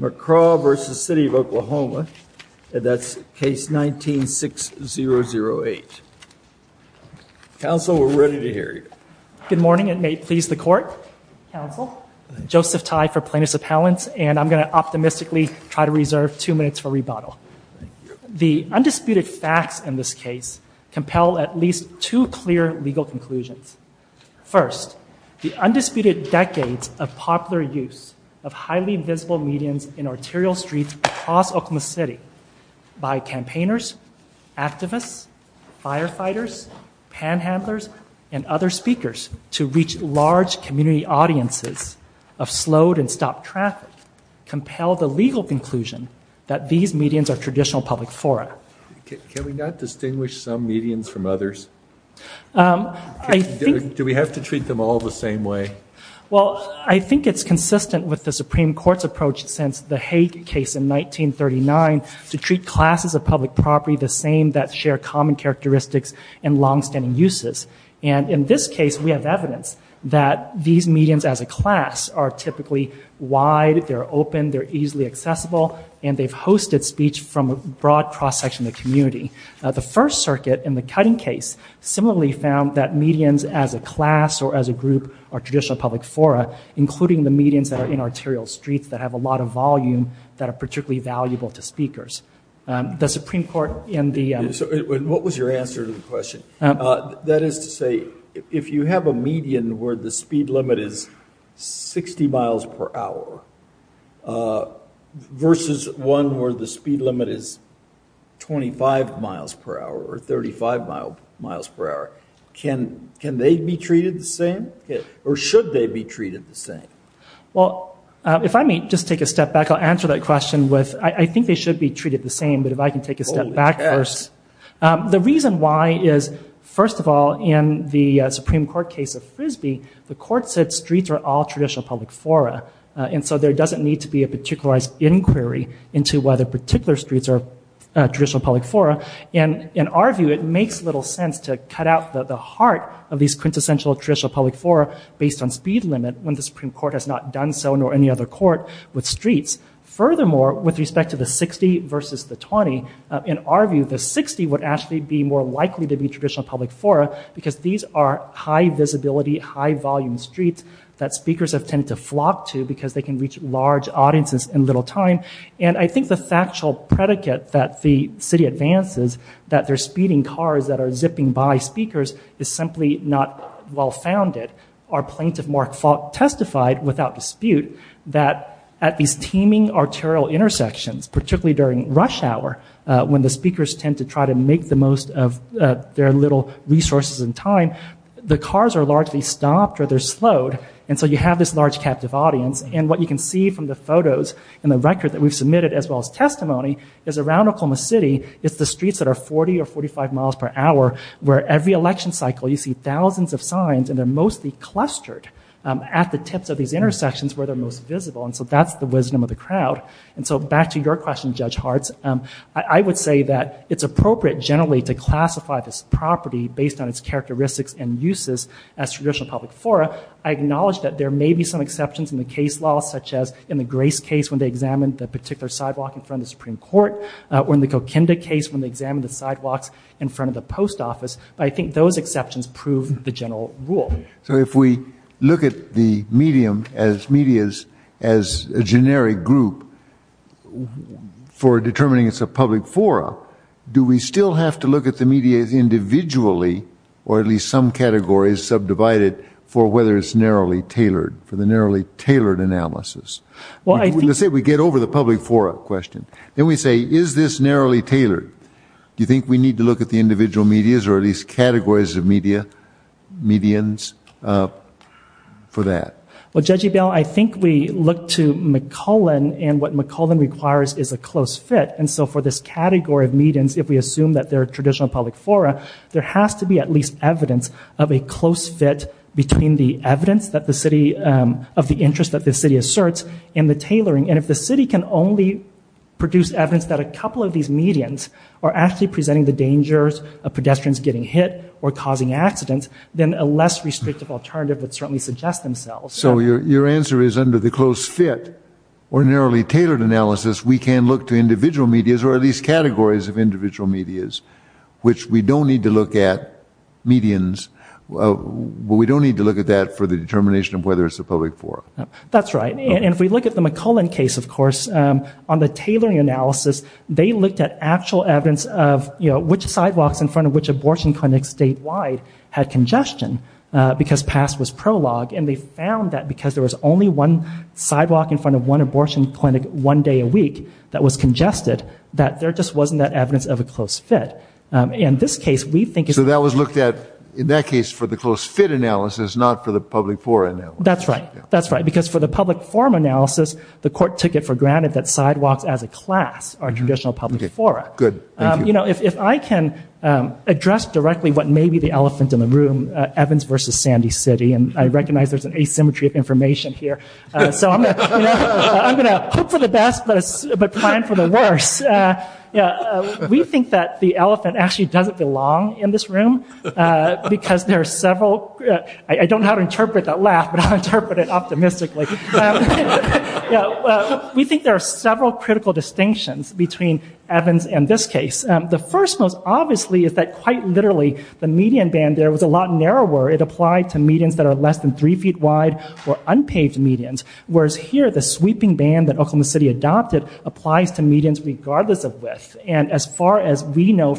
McCraw v. City of Oklahoma, that's case 19-6008. Counsel, we're ready to hear you. Good morning and may it please the court, counsel. Joseph Tai for plaintiffs appellants and I'm going to optimistically try to reserve two minutes for rebuttal. The undisputed facts in this case compel at least two clear legal conclusions. First, the undisputed decades of popular use of highly visible medians in arterial streets across Oklahoma City by campaigners, activists, firefighters, panhandlers, and other speakers to reach large community audiences of slowed and stopped traffic compel the legal conclusion that these medians are traditional public fora. Can we not distinguish some medians from others? Do we have to treat them all the same way? Well, I think it's consistent with the Supreme Court's approach since the Hague case in 1939 to treat classes of public property the same that share common characteristics and long-standing uses. And in this case we have evidence that these medians as a class are typically wide, they're open, they're easily accessible, and they've hosted speech from a broad cross-section of the community. The First Circuit in the cutting case similarly found that medians as a class or as a group are medians that are in arterial streets that have a lot of volume that are particularly valuable to speakers. The Supreme Court in the... What was your answer to the question? That is to say if you have a median where the speed limit is 60 miles per hour versus one where the speed limit is 25 miles per hour or 35 miles per hour, can they be treated the same? Or should they be treated the same? Well, if I may just take a step back, I'll answer that question with, I think they should be treated the same, but if I can take a step back first. The reason why is, first of all, in the Supreme Court case of Frisbee, the court said streets are all traditional public fora, and so there doesn't need to be a particularized inquiry into whether particular streets are traditional public fora. And in our view it makes little sense to cut out the heart of these quintessential traditional public fora based on speed limit when the Supreme Court has not done so nor any other court with streets. Furthermore, with respect to the 60 versus the 20, in our view the 60 would actually be more likely to be traditional public fora because these are high visibility, high volume streets that speakers have tended to flock to because they can reach large audiences in little time. And I think the factual predicate that the city advances that they're speeding cars that are zipping by speakers is simply not well founded. Our plaintiff, Mark Faulk, testified without dispute that at these teeming arterial intersections, particularly during rush hour when the speakers tend to try to make the most of their little resources and time, the cars are largely stopped or they're slowed, and so you have this large captive audience. And what you can see from the photos and the record that we've submitted as well as testimony is around Oklahoma City it's the streets that are 40 or 45 miles per hour where every election cycle you see thousands of signs and they're mostly clustered at the tips of these intersections where they're most visible and so that's the wisdom of the crowd. And so back to your question, Judge Hartz, I would say that it's appropriate generally to classify this property based on its characteristics and uses as traditional public fora. I acknowledge that there may be some exceptions in the case law such as in the Grace case when they examined the particular sidewalk in the Supreme Court or in the Kokinda case when they examined the sidewalks in front of the post office, but I think those exceptions prove the general rule. So if we look at the medium as medias as a generic group for determining it's a public fora, do we still have to look at the medias individually or at least some categories subdivided for whether it's narrowly tailored for the narrowly tailored? Do you think we need to look at the individual medias or at least categories of media medians for that? Well, Judge Ebell, I think we look to McCullen and what McCullen requires is a close fit and so for this category of medians if we assume that they're traditional public fora there has to be at least evidence of a close fit between the evidence that the city of the interest that the city asserts and the tailoring and if the city can only produce evidence that a couple of these medians are actually presenting the dangers of pedestrians getting hit or causing accidents then a less restrictive alternative would certainly suggest themselves. So your answer is under the close fit or narrowly tailored analysis we can look to individual medias or at least categories of individual medias which we don't need to look at medians well we don't need to look at that for the determination of whether it's a public fora. That's right and if we look at the McCullen case of course on the tailoring analysis they looked at actual evidence of you know which sidewalks in front of which abortion clinics statewide had congestion because past was prologue and they found that because there was only one sidewalk in front of one abortion clinic one day a week that was congested that there just wasn't that evidence of a close fit. In this case we think... So that was looked at in that case for the close fit analysis not for the public forum. That's right that's right because for the public forum analysis the court took it for granted that sidewalks as a class are traditional public forum. Good. You know if I can address directly what may be the elephant in the room Evans versus Sandy City and I recognize there's an asymmetry of information here so I'm gonna hope for the best but plan for the worst. Yeah we think that the elephant actually doesn't belong in this room because there are several... I don't know how to interpret that laugh but I'll interpret it optimistically. We think there are several critical distinctions between Evans and this case. The first most obviously is that quite literally the median band there was a lot narrower. It applied to medians that are less than three feet wide or unpaved medians whereas here the sweeping band that Oklahoma City adopted applies to medians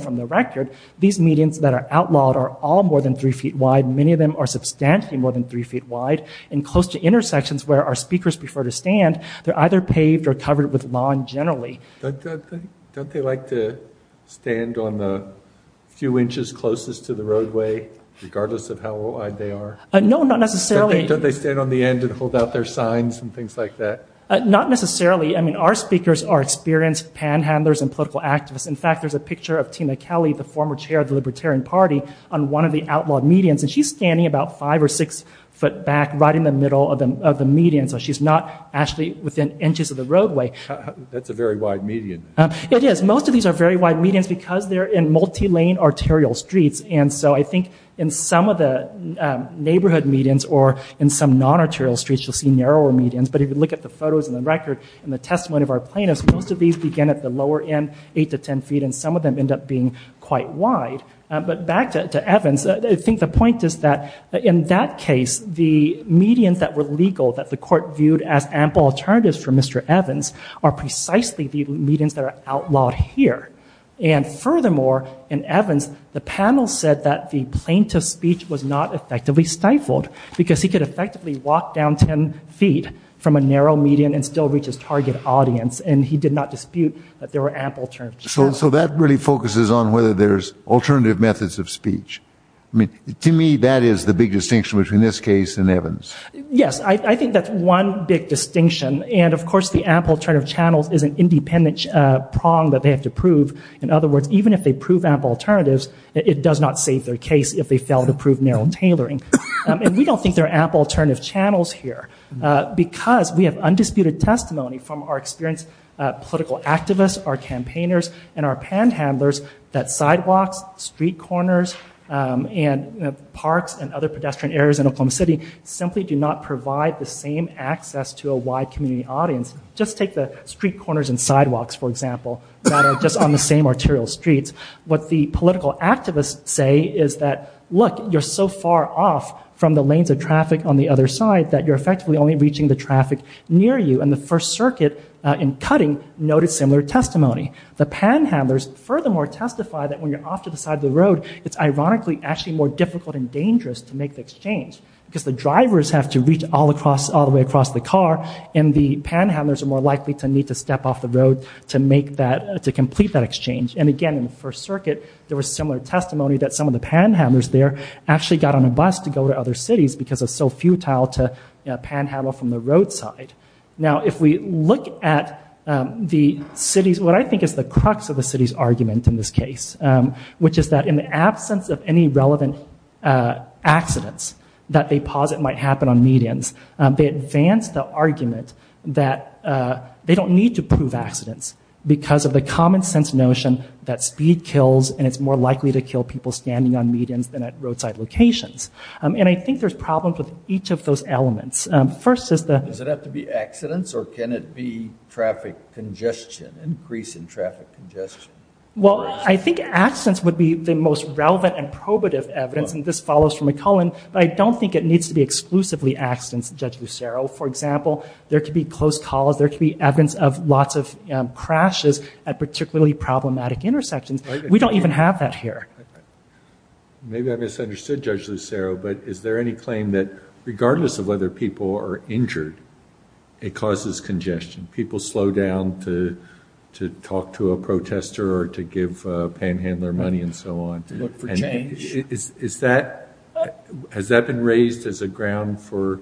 from the record. These medians that are outlawed are all more than three feet wide. Many of them are substantially more than three feet wide and close to intersections where our speakers prefer to stand. They're either paved or covered with lawn generally. Don't they like to stand on the few inches closest to the roadway regardless of how old they are? No not necessarily. Don't they stand on the end and hold out their signs and things like that? Not necessarily. I mean our speakers are experienced panhandlers and political activists. In fact there's a Kelly, the former chair of the Libertarian Party, on one of the outlawed medians and she's standing about five or six foot back right in the middle of the median so she's not actually within inches of the roadway. That's a very wide median. It is. Most of these are very wide medians because they're in multi-lane arterial streets and so I think in some of the neighborhood medians or in some non-arterial streets you'll see narrower medians but if you look at the photos and the record and the testimony of our plaintiffs most of these begin at the lower end eight to ten feet and some of them end up being quite wide but back to Evans I think the point is that in that case the medians that were legal that the court viewed as ample alternatives for Mr. Evans are precisely the medians that are outlawed here and furthermore in Evans the panel said that the plaintiff's speech was not effectively stifled because he could effectively walk down ten feet from a narrow median and still reach his So that really focuses on whether there's alternative methods of speech. I mean to me that is the big distinction between this case and Evans. Yes I think that's one big distinction and of course the ample turn of channels is an independent prong that they have to prove. In other words even if they prove ample alternatives it does not save their case if they fail to prove narrow tailoring and we don't think there are ample alternative channels here because we have undisputed testimony from our experienced political activists our campaigners and our panhandlers that sidewalks street corners and parks and other pedestrian areas in Oklahoma City simply do not provide the same access to a wide community audience just take the street corners and sidewalks for example just on the same arterial streets what the political activists say is that look you're so far off from the lanes of the other side that you're effectively only reaching the traffic near you and the First Circuit in cutting noted similar testimony. The panhandlers furthermore testify that when you're off to the side of the road it's ironically actually more difficult and dangerous to make the exchange because the drivers have to reach all across all the way across the car and the panhandlers are more likely to need to step off the road to make that to complete that exchange and again in the First Circuit there was similar testimony that some of the panhandlers there actually got on a bus to go to other cities because of so few trial to panhandle from the roadside. Now if we look at the city's what I think is the crux of the city's argument in this case which is that in the absence of any relevant accidents that they posit might happen on medians they advance the argument that they don't need to prove accidents because of the common-sense notion that speed kills and it's more likely to kill people standing on medians than at roadside locations and I think there's problems with each of those elements. First is the... Does it have to be accidents or can it be traffic congestion, increase in traffic congestion? Well I think accidents would be the most relevant and probative evidence and this follows from McCullen but I don't think it needs to be exclusively accidents Judge Lucero. For example there could be close calls, there could be evidence of lots of crashes at particularly problematic intersections. We don't even have that here. Maybe I Regardless of whether people are injured it causes congestion. People slow down to to talk to a protester or to give panhandler money and so on. Look for change. Is that, has that been raised as a ground for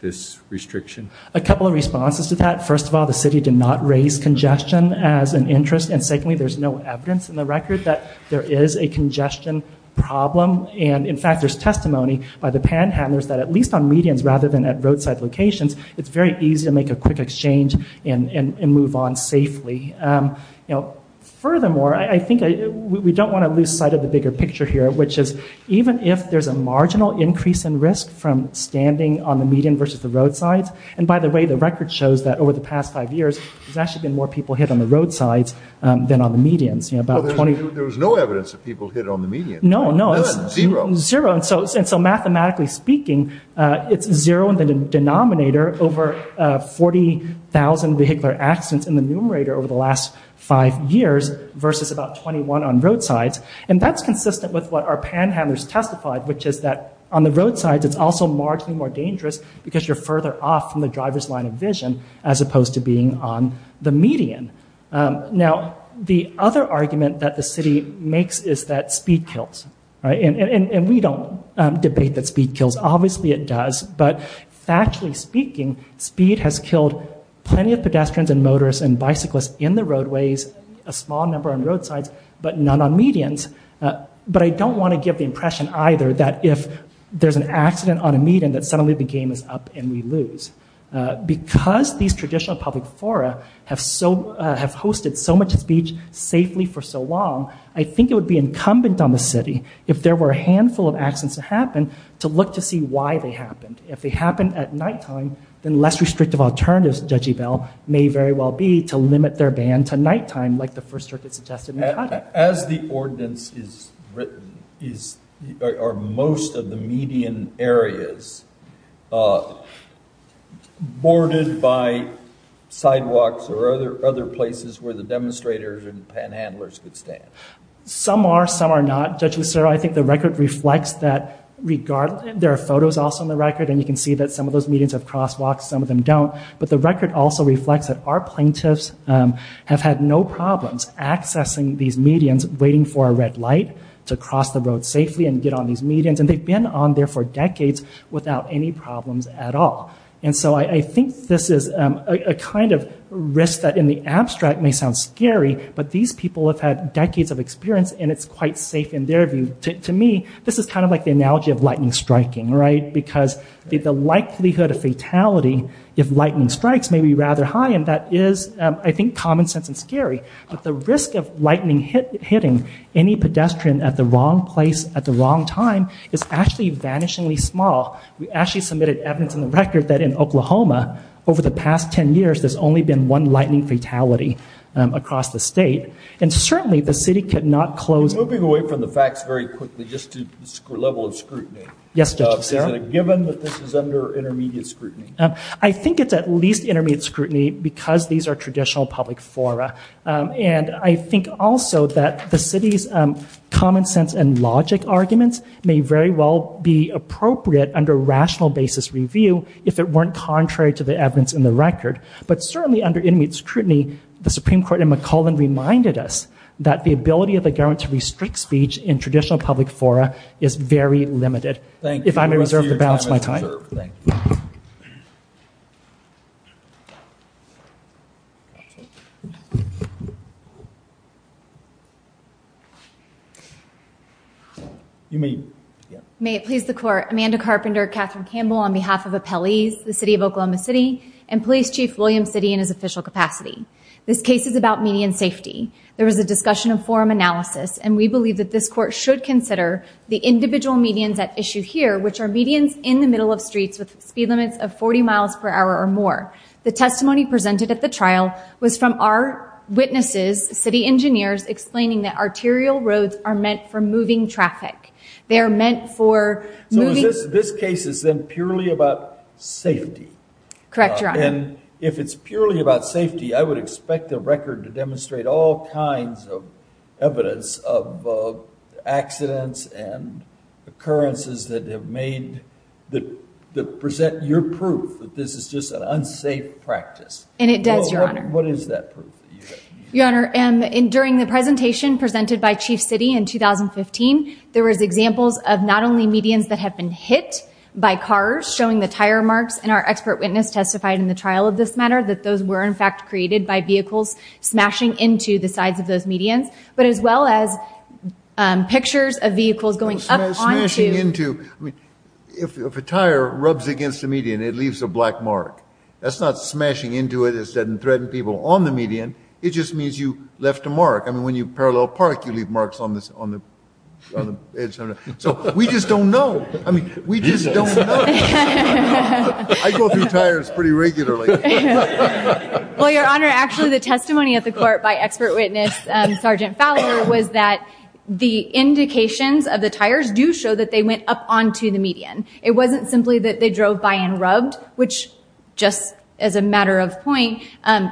this restriction? A couple of responses to that. First of all the city did not raise congestion as an interest and secondly there's no evidence in the record that there is a congestion problem and in fact there's testimony by the panhandlers that at least on medians rather than at roadside locations it's very easy to make a quick exchange and move on safely. You know furthermore I think we don't want to lose sight of the bigger picture here which is even if there's a marginal increase in risk from standing on the median versus the roadside and by the way the record shows that over the past five years there's actually been more people hit on the roadside than on the medians. There was no evidence that people hit on the median. No, no. Zero. Zero and so mathematically speaking it's zero in the denominator over 40,000 vehicular accidents in the numerator over the last five years versus about 21 on roadsides and that's consistent with what our panhandlers testified which is that on the roadside it's also marginally more dangerous because you're further off from the driver's line of vision as opposed to being on the median. Now the other argument that the city makes is that speed kills and we don't debate that speed kills. Obviously it does but factually speaking speed has killed plenty of pedestrians and motorists and bicyclists in the roadways a small number on roadsides but none on medians but I don't want to give the impression either that if there's an accident on a median that suddenly the game is up and we lose. Because these traditional public fora have so have hosted so much speech safely for so long I think it would be incumbent on the city if there were a handful of accidents to happen to look to see why they happened. If they happened at nighttime then less restrictive alternatives Judge Ebell may very well be to limit their ban to nighttime like the First Circuit suggested. As the ordinance is written are most of the median areas boarded by sidewalks or other other places where the demonstrators and panhandlers could stand? Some are some are not. Judge Lucero I think the record reflects that regardless there are photos also in the record and you can see that some of those medians have crosswalks some of them don't but the record also reflects that our plaintiffs have had no problems accessing these medians waiting for a red light to cross the road safely and get on these medians and they've been on there for decades without any problems at all. And so I think this is a kind of risk that in the abstract may sound scary but these people have had decades of experience and it's quite safe in their view. To me this is kind of like the analogy of lightning striking right because the likelihood of fatality if lightning strikes may be rather high and that is I think common sense and scary but the risk of lightning hitting any pedestrian at the wrong place at the wrong time is actually vanishingly We actually submitted evidence in the record that in Oklahoma over the past 10 years there's only been one lightning fatality across the state and certainly the city could not close. Moving away from the facts very quickly just to the level of scrutiny. Yes Judge Lucero. Is it a given that this is under intermediate scrutiny? I think it's at least intermediate scrutiny because these are traditional public fora and I think also that the city's common sense and logic arguments may very well be appropriate under rational basis review if it weren't contrary to the evidence in the record. But certainly under intermediate scrutiny the Supreme Court and McClellan reminded us that the ability of the government to restrict speech in traditional public fora is very limited. Thank you. If I may reserve the balance of my time. May it please the Court. Amanda Carpenter, Catherine Campbell on behalf of appellees, the City of Oklahoma City, and Police Chief William Sitte in his official capacity. This case is about median safety. There was a discussion of forum analysis and we believe that this court should consider the individual medians at issue here which are medians in the middle of streets with speed limits of 40 miles per hour or more. The testimony presented at the trial was from our witnesses, city engineers, explaining that arterial roads are meant for moving traffic. They're meant for... So this case is then purely about safety? Correct Your Honor. And if it's purely about safety I would expect the record to demonstrate all kinds of accidents and occurrences that have made... that present your proof that this is just an unsafe practice. And it does, Your Honor. What is that proof? Your Honor, during the presentation presented by Chief Sitte in 2015 there was examples of not only medians that have been hit by cars showing the tire marks and our expert witness testified in the trial of this matter that those were in fact created by vehicles smashing into the sides of those medians but as well as pictures of vehicles going up onto... Smashing into... I mean if a tire rubs against the median it leaves a black mark. That's not smashing into it instead and threatening people on the median. It just means you left a mark. I mean when you parallel park you leave marks on this on the edge. So we just don't know. I mean we just don't know. I go through tires pretty regularly. Well, Your Honor, actually the testimony at the court by expert witness Sergeant Fowler was that the indications of the tires do show that they went up onto the median. It wasn't simply that they drove by and rubbed, which just as a matter of point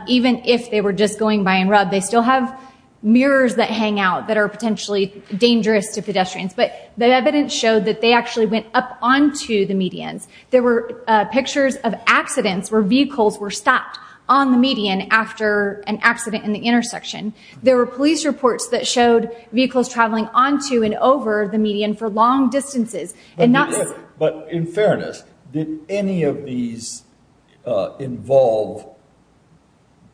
even if they were just going by and rubbed they still have mirrors that hang out that are potentially dangerous to pedestrians. But the evidence showed that they actually went up onto the medians. There were pictures of accidents where vehicles were stopped on the median after an accident in the intersection. There were police reports that showed vehicles traveling onto and over the median for long distances. But in fairness, did any of these involve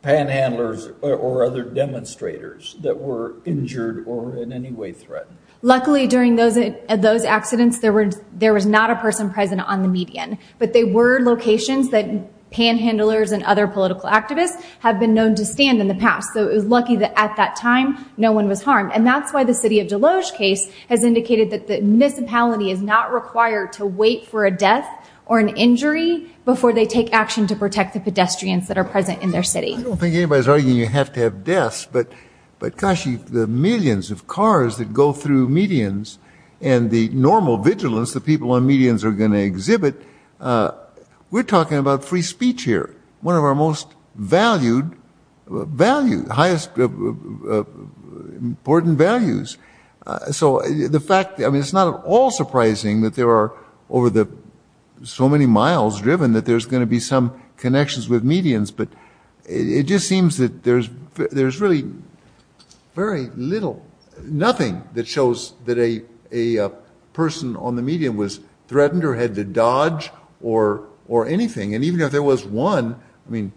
panhandlers or other demonstrators that were injured or in any way threatened? Luckily during those those accidents there were there was not a person present on the median. But they were locations that panhandlers and other political activists have been known to stand in the past. So it was lucky that at that time no one was harmed. And that's why the city of Deloge case has indicated that the municipality is not required to wait for a death or an injury before they take action to protect the pedestrians that are present in their city. I don't think anybody's arguing you have to have deaths, but gosh, the millions of cars that go through medians and the normal vigilance the people on medians are going to exhibit. We're talking about free speech here. One of our most valued values, highest important values. So the fact, I mean, it's not at all surprising that there are over the so many miles driven that there's going to be some connections with medians. But it just seems that there's there's really very little, nothing that shows that a person on the median was threatened or had to dodge or or anything. And even if there was one, I mean,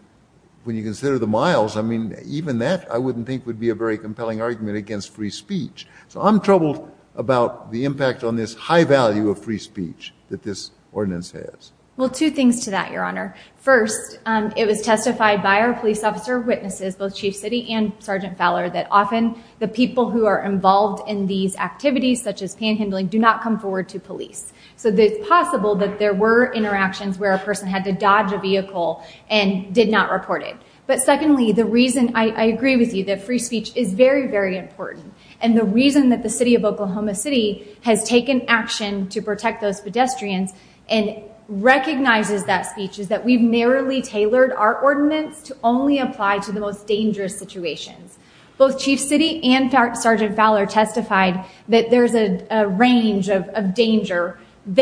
when you consider the miles, I mean, even that I wouldn't think would be a very compelling argument against free speech. So I'm troubled about the impact on this high value of free speech that this ordinance has. Well, two things to that, Your Honor. First, it was testified by our police officer witnesses, both Chief Citi and Sergeant Fowler, that often the people who are involved in these activities, such as panhandling, do not come forward to police. So it's possible that there were interactions where a person had to dodge a vehicle and did not report it. But secondly, the reason, I agree with you, that free speech is very, very important. And the reason that the city of Oklahoma City has taken action to protect those pedestrians and recognizes that speech is that we've narrowly tailored our ordinance to only apply to the most dangerous situations. Both Chief Citi and Sergeant Fowler testified that there's a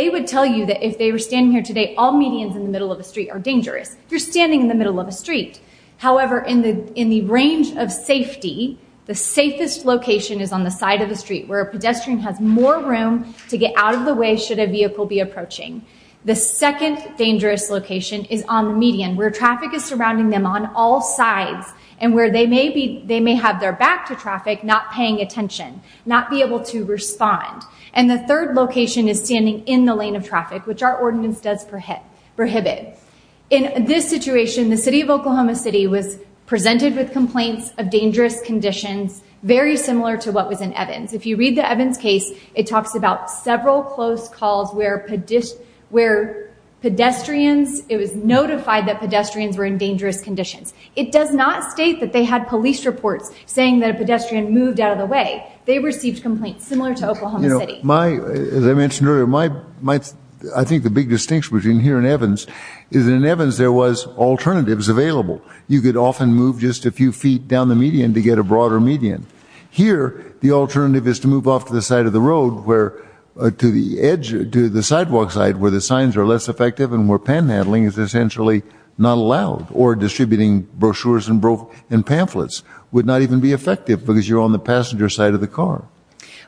would tell you that if they were standing here today, all medians in the middle of the street are dangerous. You're standing in the middle of a street. However, in the in the range of safety, the safest location is on the side of the street where a pedestrian has more room to get out of the way should a vehicle be approaching. The second dangerous location is on the median where traffic is surrounding them on all sides and where they may be, they may have their back to traffic not paying attention, not be able to respond. And the third location is standing in the lane of traffic, which our ordinance does prohibit. In this situation, the city of Oklahoma City was presented with complaints of dangerous conditions, very similar to what was in Evans. If you read the Evans case, it talks about several close calls where pedestrians, it was notified that pedestrians were in dangerous conditions. It does not state that they had police reports saying that a pedestrian moved out of the way. They As I mentioned earlier, I think the big distinction between here and Evans is in Evans there was alternatives available. You could often move just a few feet down the median to get a broader median. Here, the alternative is to move off to the side of the road where, to the edge, to the sidewalk side where the signs are less effective and where panhandling is essentially not allowed or distributing brochures and pamphlets would not even be effective because you're on the passenger side of the car.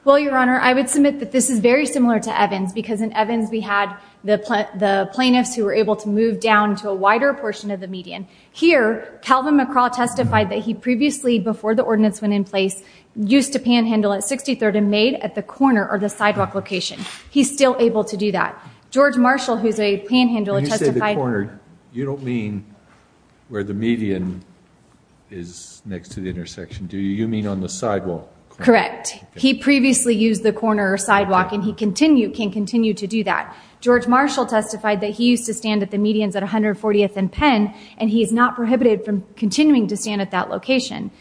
Well, your that this is very similar to Evans because in Evans we had the plaintiffs who were able to move down to a wider portion of the median. Here, Calvin McCraw testified that he previously, before the ordinance went in place, used to panhandle at 63rd and made at the corner or the sidewalk location. He's still able to do that. George Marshall, who's a panhandler, testified. You don't mean where the median is next to the intersection. Do you mean on the sidewalk? Correct. He previously used the corner or sidewalk and he continue, can continue to do that. George Marshall testified that he used to stand at the medians at 140th and Penn and he is not prohibited from continuing to stand at that location.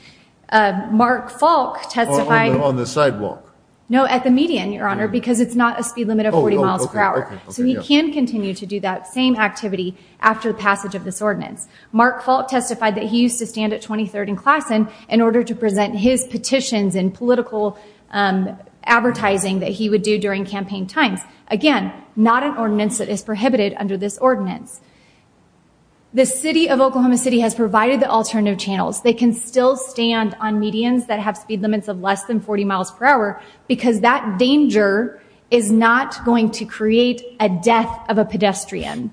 Mark Falk testified. On the sidewalk? No, at the median, your honor, because it's not a speed limit of 40 miles per hour. So he can continue to do that same activity after passage of this ordinance. Mark Falk testified that he in political advertising that he would do during campaign times. Again, not an ordinance that is prohibited under this ordinance. The City of Oklahoma City has provided the alternative channels. They can still stand on medians that have speed limits of less than 40 miles per hour because that danger is not going to create a death of a pedestrian.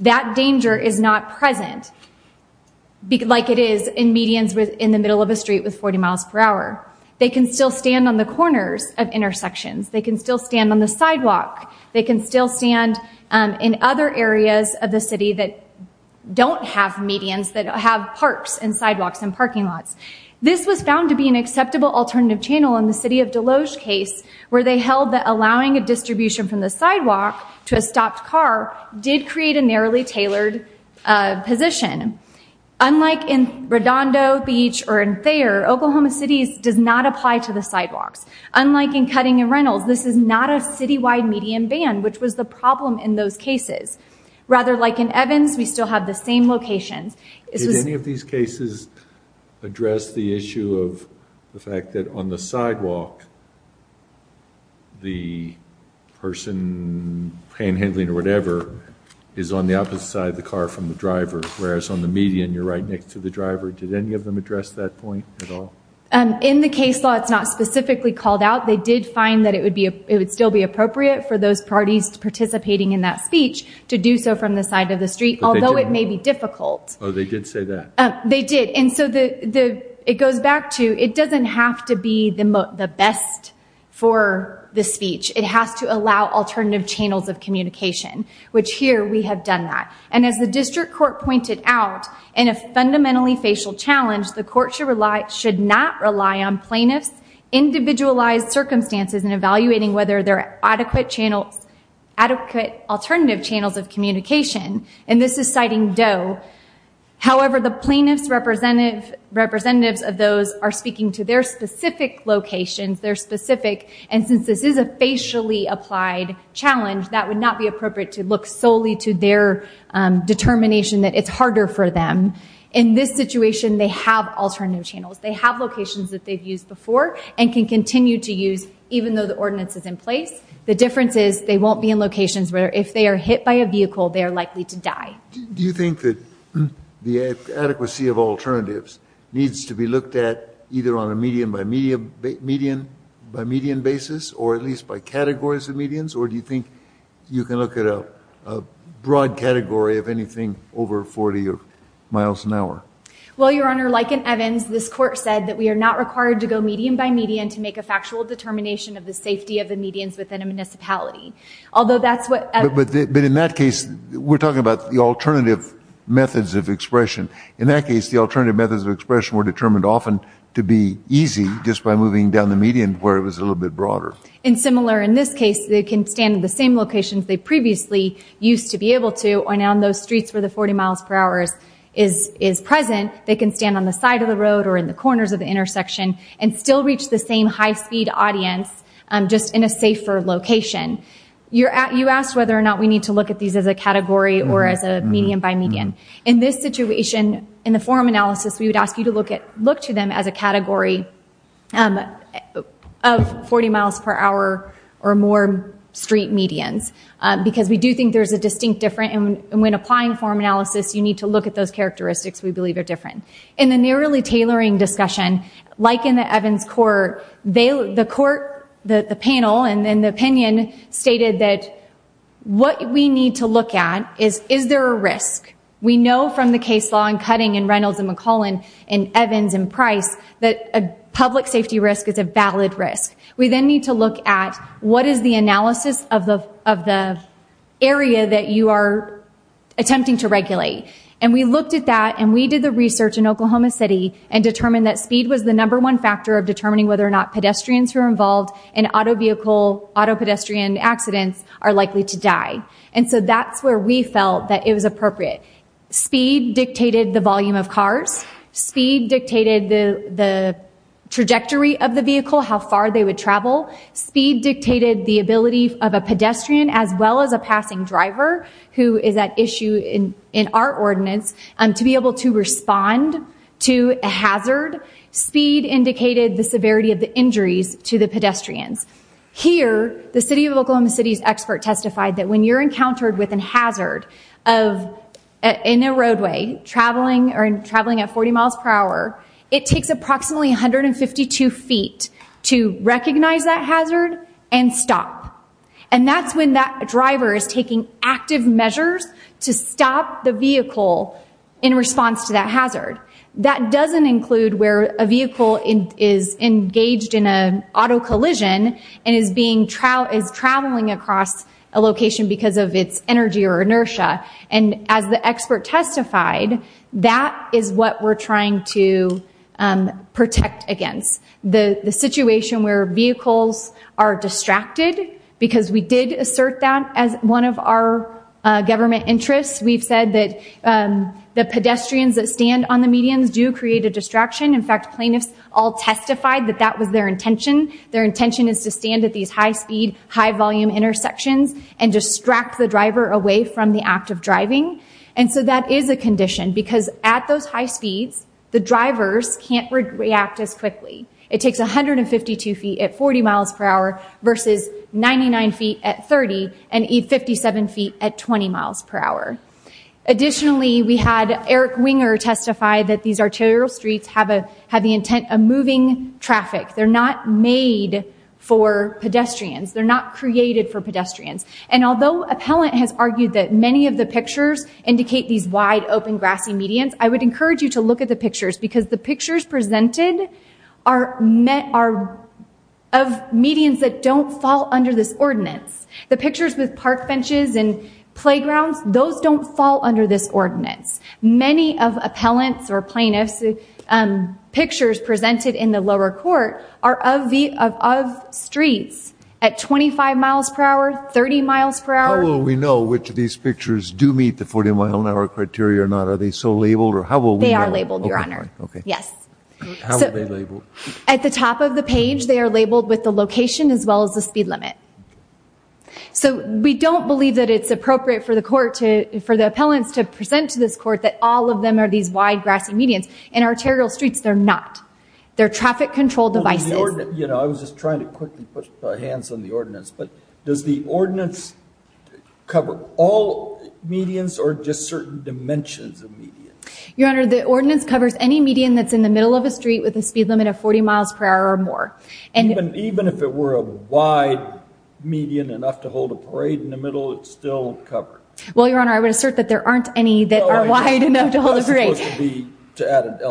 That danger is not present, like it is in medians within the middle of a street with 40 miles per hour. They can still stand on the corners of intersections. They can still stand on the sidewalk. They can still stand in other areas of the city that don't have medians that have parks and sidewalks and parking lots. This was found to be an acceptable alternative channel in the City of Deloge case where they held that allowing a distribution from the sidewalk to a stopped car did create a redondo, beach, or in Thayer, Oklahoma City's does not apply to the sidewalks. Unlike in Cutting and Reynolds, this is not a citywide median ban, which was the problem in those cases. Rather, like in Evans, we still have the same locations. Did any of these cases address the issue of the fact that on the sidewalk the person, panhandling or whatever, is on the opposite side of the car from the driver? Did any of them address that point at all? In the case law, it's not specifically called out. They did find that it would still be appropriate for those parties participating in that speech to do so from the side of the street, although it may be difficult. Oh, they did say that? They did, and so it goes back to, it doesn't have to be the best for the speech. It has to allow alternative channels of communication, which here we have done that. And as the District Court pointed out, in a fundamentally facial challenge, the court should not rely on plaintiffs' individualized circumstances in evaluating whether there are adequate channels, adequate alternative channels of communication. And this is citing Doe. However, the plaintiffs' representatives of those are speaking to their specific locations, their specific, and since this is a facially applied challenge, that would not be appropriate to look solely to their determination that it's harder for them. In this situation, they have alternative channels. They have locations that they've used before and can continue to use even though the ordinance is in place. The difference is they won't be in locations where if they are hit by a vehicle, they are likely to die. Do you think that the adequacy of alternatives needs to be looked at either on a median by median by median basis, or at least by categories of medians, or do you think you can look at a broad category of anything over 40 miles an hour? Well, Your Honor, like in Evans, this court said that we are not required to go median by median to make a factual determination of the safety of the medians within a municipality. Although that's what... But in that case, we're talking about the alternative methods of expression. In that case, the alternative methods of expression were determined often to be easy just by moving down the median where it was a little bit broader. And similar in this case, they can stand in the same locations they previously used to be able to, and on those streets where the 40 miles per hour is present, they can stand on the side of the road or in the corners of the intersection and still reach the same high-speed audience, just in a safer location. You asked whether or not we need to look at these as a category or as a median by median. In this situation, in the forum analysis, we would ask you to look to them as a category of 40 miles per hour or more street medians, because we do think there's a distinct difference. And when applying forum analysis, you need to look at those characteristics we believe are different. In the narrowly tailoring discussion, like in the Evans court, the court, the panel, and then the opinion stated that what we need to look at is, is there a risk? We know from the case law in Cutting and Reynolds and McClellan and Evans and Price that a public safety risk is a valid risk. We then need to look at what is the analysis of the area that you are attempting to regulate. And we looked at that and we did the research in Oklahoma City and determined that speed was the number one factor of determining whether or not pedestrians who are involved in auto vehicle, auto pedestrian accidents are likely to die. And so that's where we felt that it was appropriate. Speed dictated the volume of cars. Speed dictated the trajectory of the vehicle, how far they would travel. Speed dictated the ability of a pedestrian, as well as a passing driver, who is at issue in our ordinance, to be able to respond to a hazard. Speed indicated the severity of the injuries to the pedestrians. Here, the City of Hazard, in a roadway, traveling at 40 miles per hour, it takes approximately 152 feet to recognize that hazard and stop. And that's when that driver is taking active measures to stop the vehicle in response to that hazard. That doesn't include where a vehicle is engaged in an auto collision and is traveling across a location because of its energy or inertia. And as the expert testified, that is what we're trying to protect against. The situation where vehicles are distracted, because we did assert that as one of our government interests, we've said that the pedestrians that stand on the medians do create a distraction. In fact, plaintiffs all testified that that was their volume intersections and distract the driver away from the act of driving. And so that is a condition because at those high speeds, the drivers can't react as quickly. It takes 152 feet at 40 miles per hour versus 99 feet at 30 and 57 feet at 20 miles per hour. Additionally, we had Eric Winger testify that these arterial streets have the intent of moving traffic. They're not made for pedestrians. And although appellant has argued that many of the pictures indicate these wide open grassy medians, I would encourage you to look at the pictures because the pictures presented are of medians that don't fall under this ordinance. The pictures with park benches and playgrounds, those don't fall under this ordinance. Many of appellants or plaintiffs' pictures presented in the 30 miles per hour. How will we know which of these pictures do meet the 40 mile an hour criteria or not? Are they so labeled or how will we know? They are labeled, Your Honor. Yes. How are they labeled? At the top of the page, they are labeled with the location as well as the speed limit. So we don't believe that it's appropriate for the court to, for the appellants to present to this court that all of them are these wide grassy medians. In arterial streets, they're not. They're traffic control devices. You know, I was just trying to quickly put my hands on the ordinance, but does the ordinance cover all medians or just certain dimensions of medians? Your Honor, the ordinance covers any median that's in the middle of a street with a speed limit of 40 miles per hour or more. And even if it were a wide median enough to hold a parade in the middle, it's still covered. Well, Your Honor, I would assert that there aren't any that are wide enough to hold a parade. And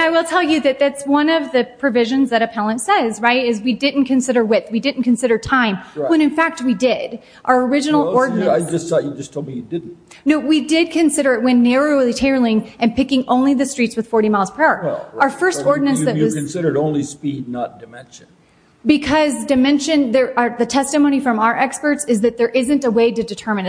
I will tell you that that's one of the provisions that appellant says, right, is we didn't consider width. We didn't consider time when, in fact, we did. Our original ordinance... I just thought you just told me you didn't. No, we did consider it when narrowly tailoring and picking only the streets with 40 miles per hour. Our first ordinance that was... You considered only speed, not dimension. Because dimension, the testimony from our experts is that there isn't a way to determine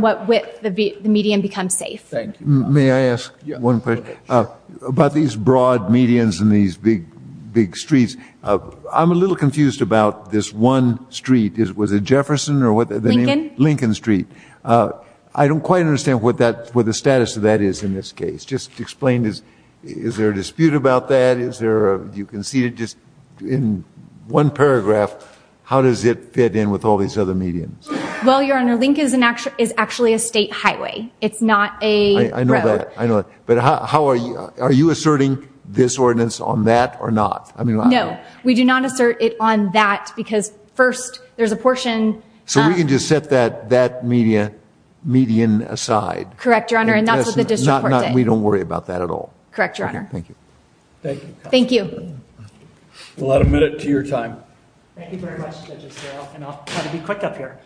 what width the median becomes safe. Thank you. May I ask one question? Sure. About these broad medians and these big streets, I'm a little confused about this one street. Was it Jefferson or what? Lincoln. Lincoln Street. I don't quite understand what the status of that is in this case. Just explain. Is there a dispute about that? You can see it just in one paragraph. How does it fit in with all these other medians? Well, Your Honor, Lincoln is actually a state highway. It's not a road. I know that. I know that. But how are you... Are you asserting this ordinance on that or not? I mean... No. We do not assert it on that because, first, there's a portion... So we can just set that median aside? Correct, Your Honor. And that's what the district court did. We don't worry about that at all? Correct, Your Honor. Okay. Thank you. Thank you. Thank you. Well, I'll admit it to your time. Thank you very much, Judge Estrella. And I'll try to be quick up here.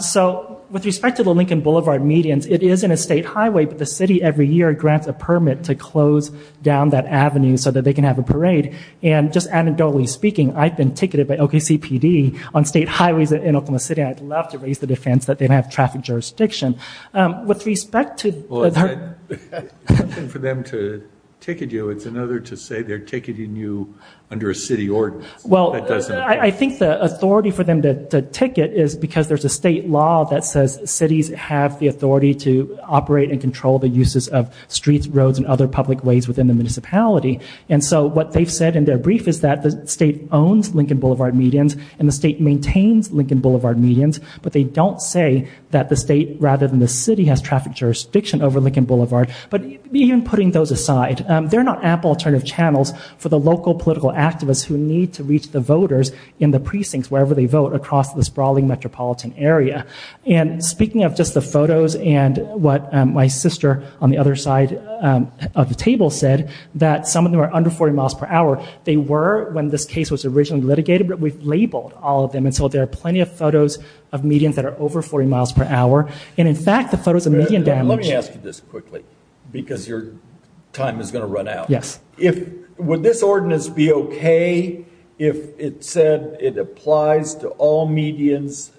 So with respect to the Lincoln Boulevard medians, it is in a state highway, but the city every year grants a permit to close down that avenue so that they can have a parade. And just anecdotally speaking, I've been ticketed by OKCPD on state highways in Oklahoma City. I'd love to raise the defense that they have traffic jurisdiction. With respect to... Well, it's not for them to ticket you. It's another to say they're ticketing you under a city ordinance. That doesn't apply. But I think the authority for them to ticket is because there's a state law that says cities have the authority to operate and control the uses of streets, roads, and other public ways within the municipality. And so what they've said in their brief is that the state owns Lincoln Boulevard medians and the state maintains Lincoln Boulevard medians, but they don't say that the state rather than the city has traffic jurisdiction over Lincoln Boulevard. But even putting those aside, they're not ample alternative channels for the local political activists who need to reach the voters in the precincts wherever they vote across the sprawling metropolitan area. And speaking of just the photos and what my sister on the other side of the table said, that some of them are under 40 miles per hour. They were when this case was originally litigated, but we've labeled all of them and so there are plenty of photos of medians that are over 40 miles per hour. And in fact, the photos of median damage... Let me ask you this quickly because your time is going to run out. Yes. Would this ordinance be okay if it said it applies to all medians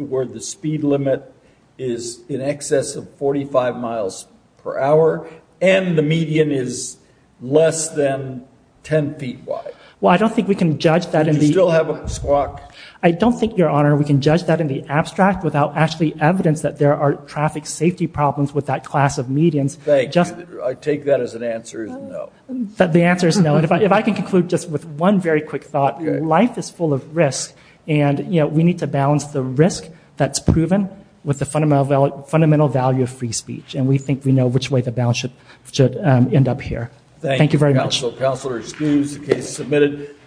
where the speed limit is in excess of 45 miles per hour and the median is less than 10 feet wide? Well, I don't think we can judge that in the... Do you still have a squawk? I don't think, Your Honor, we can judge that in the abstract without actually evidence that there are traffic safety problems with that class of medians. Thank you. I take that as an answer is no. The answer is no. If I can conclude just with one very quick thought, life is full of risk and we need to balance the risk that's proven with the fundamental value of free speech. And we think we know which way the balance should end up here. Thank you very much. Thank you, Counselor. Counselor, excused.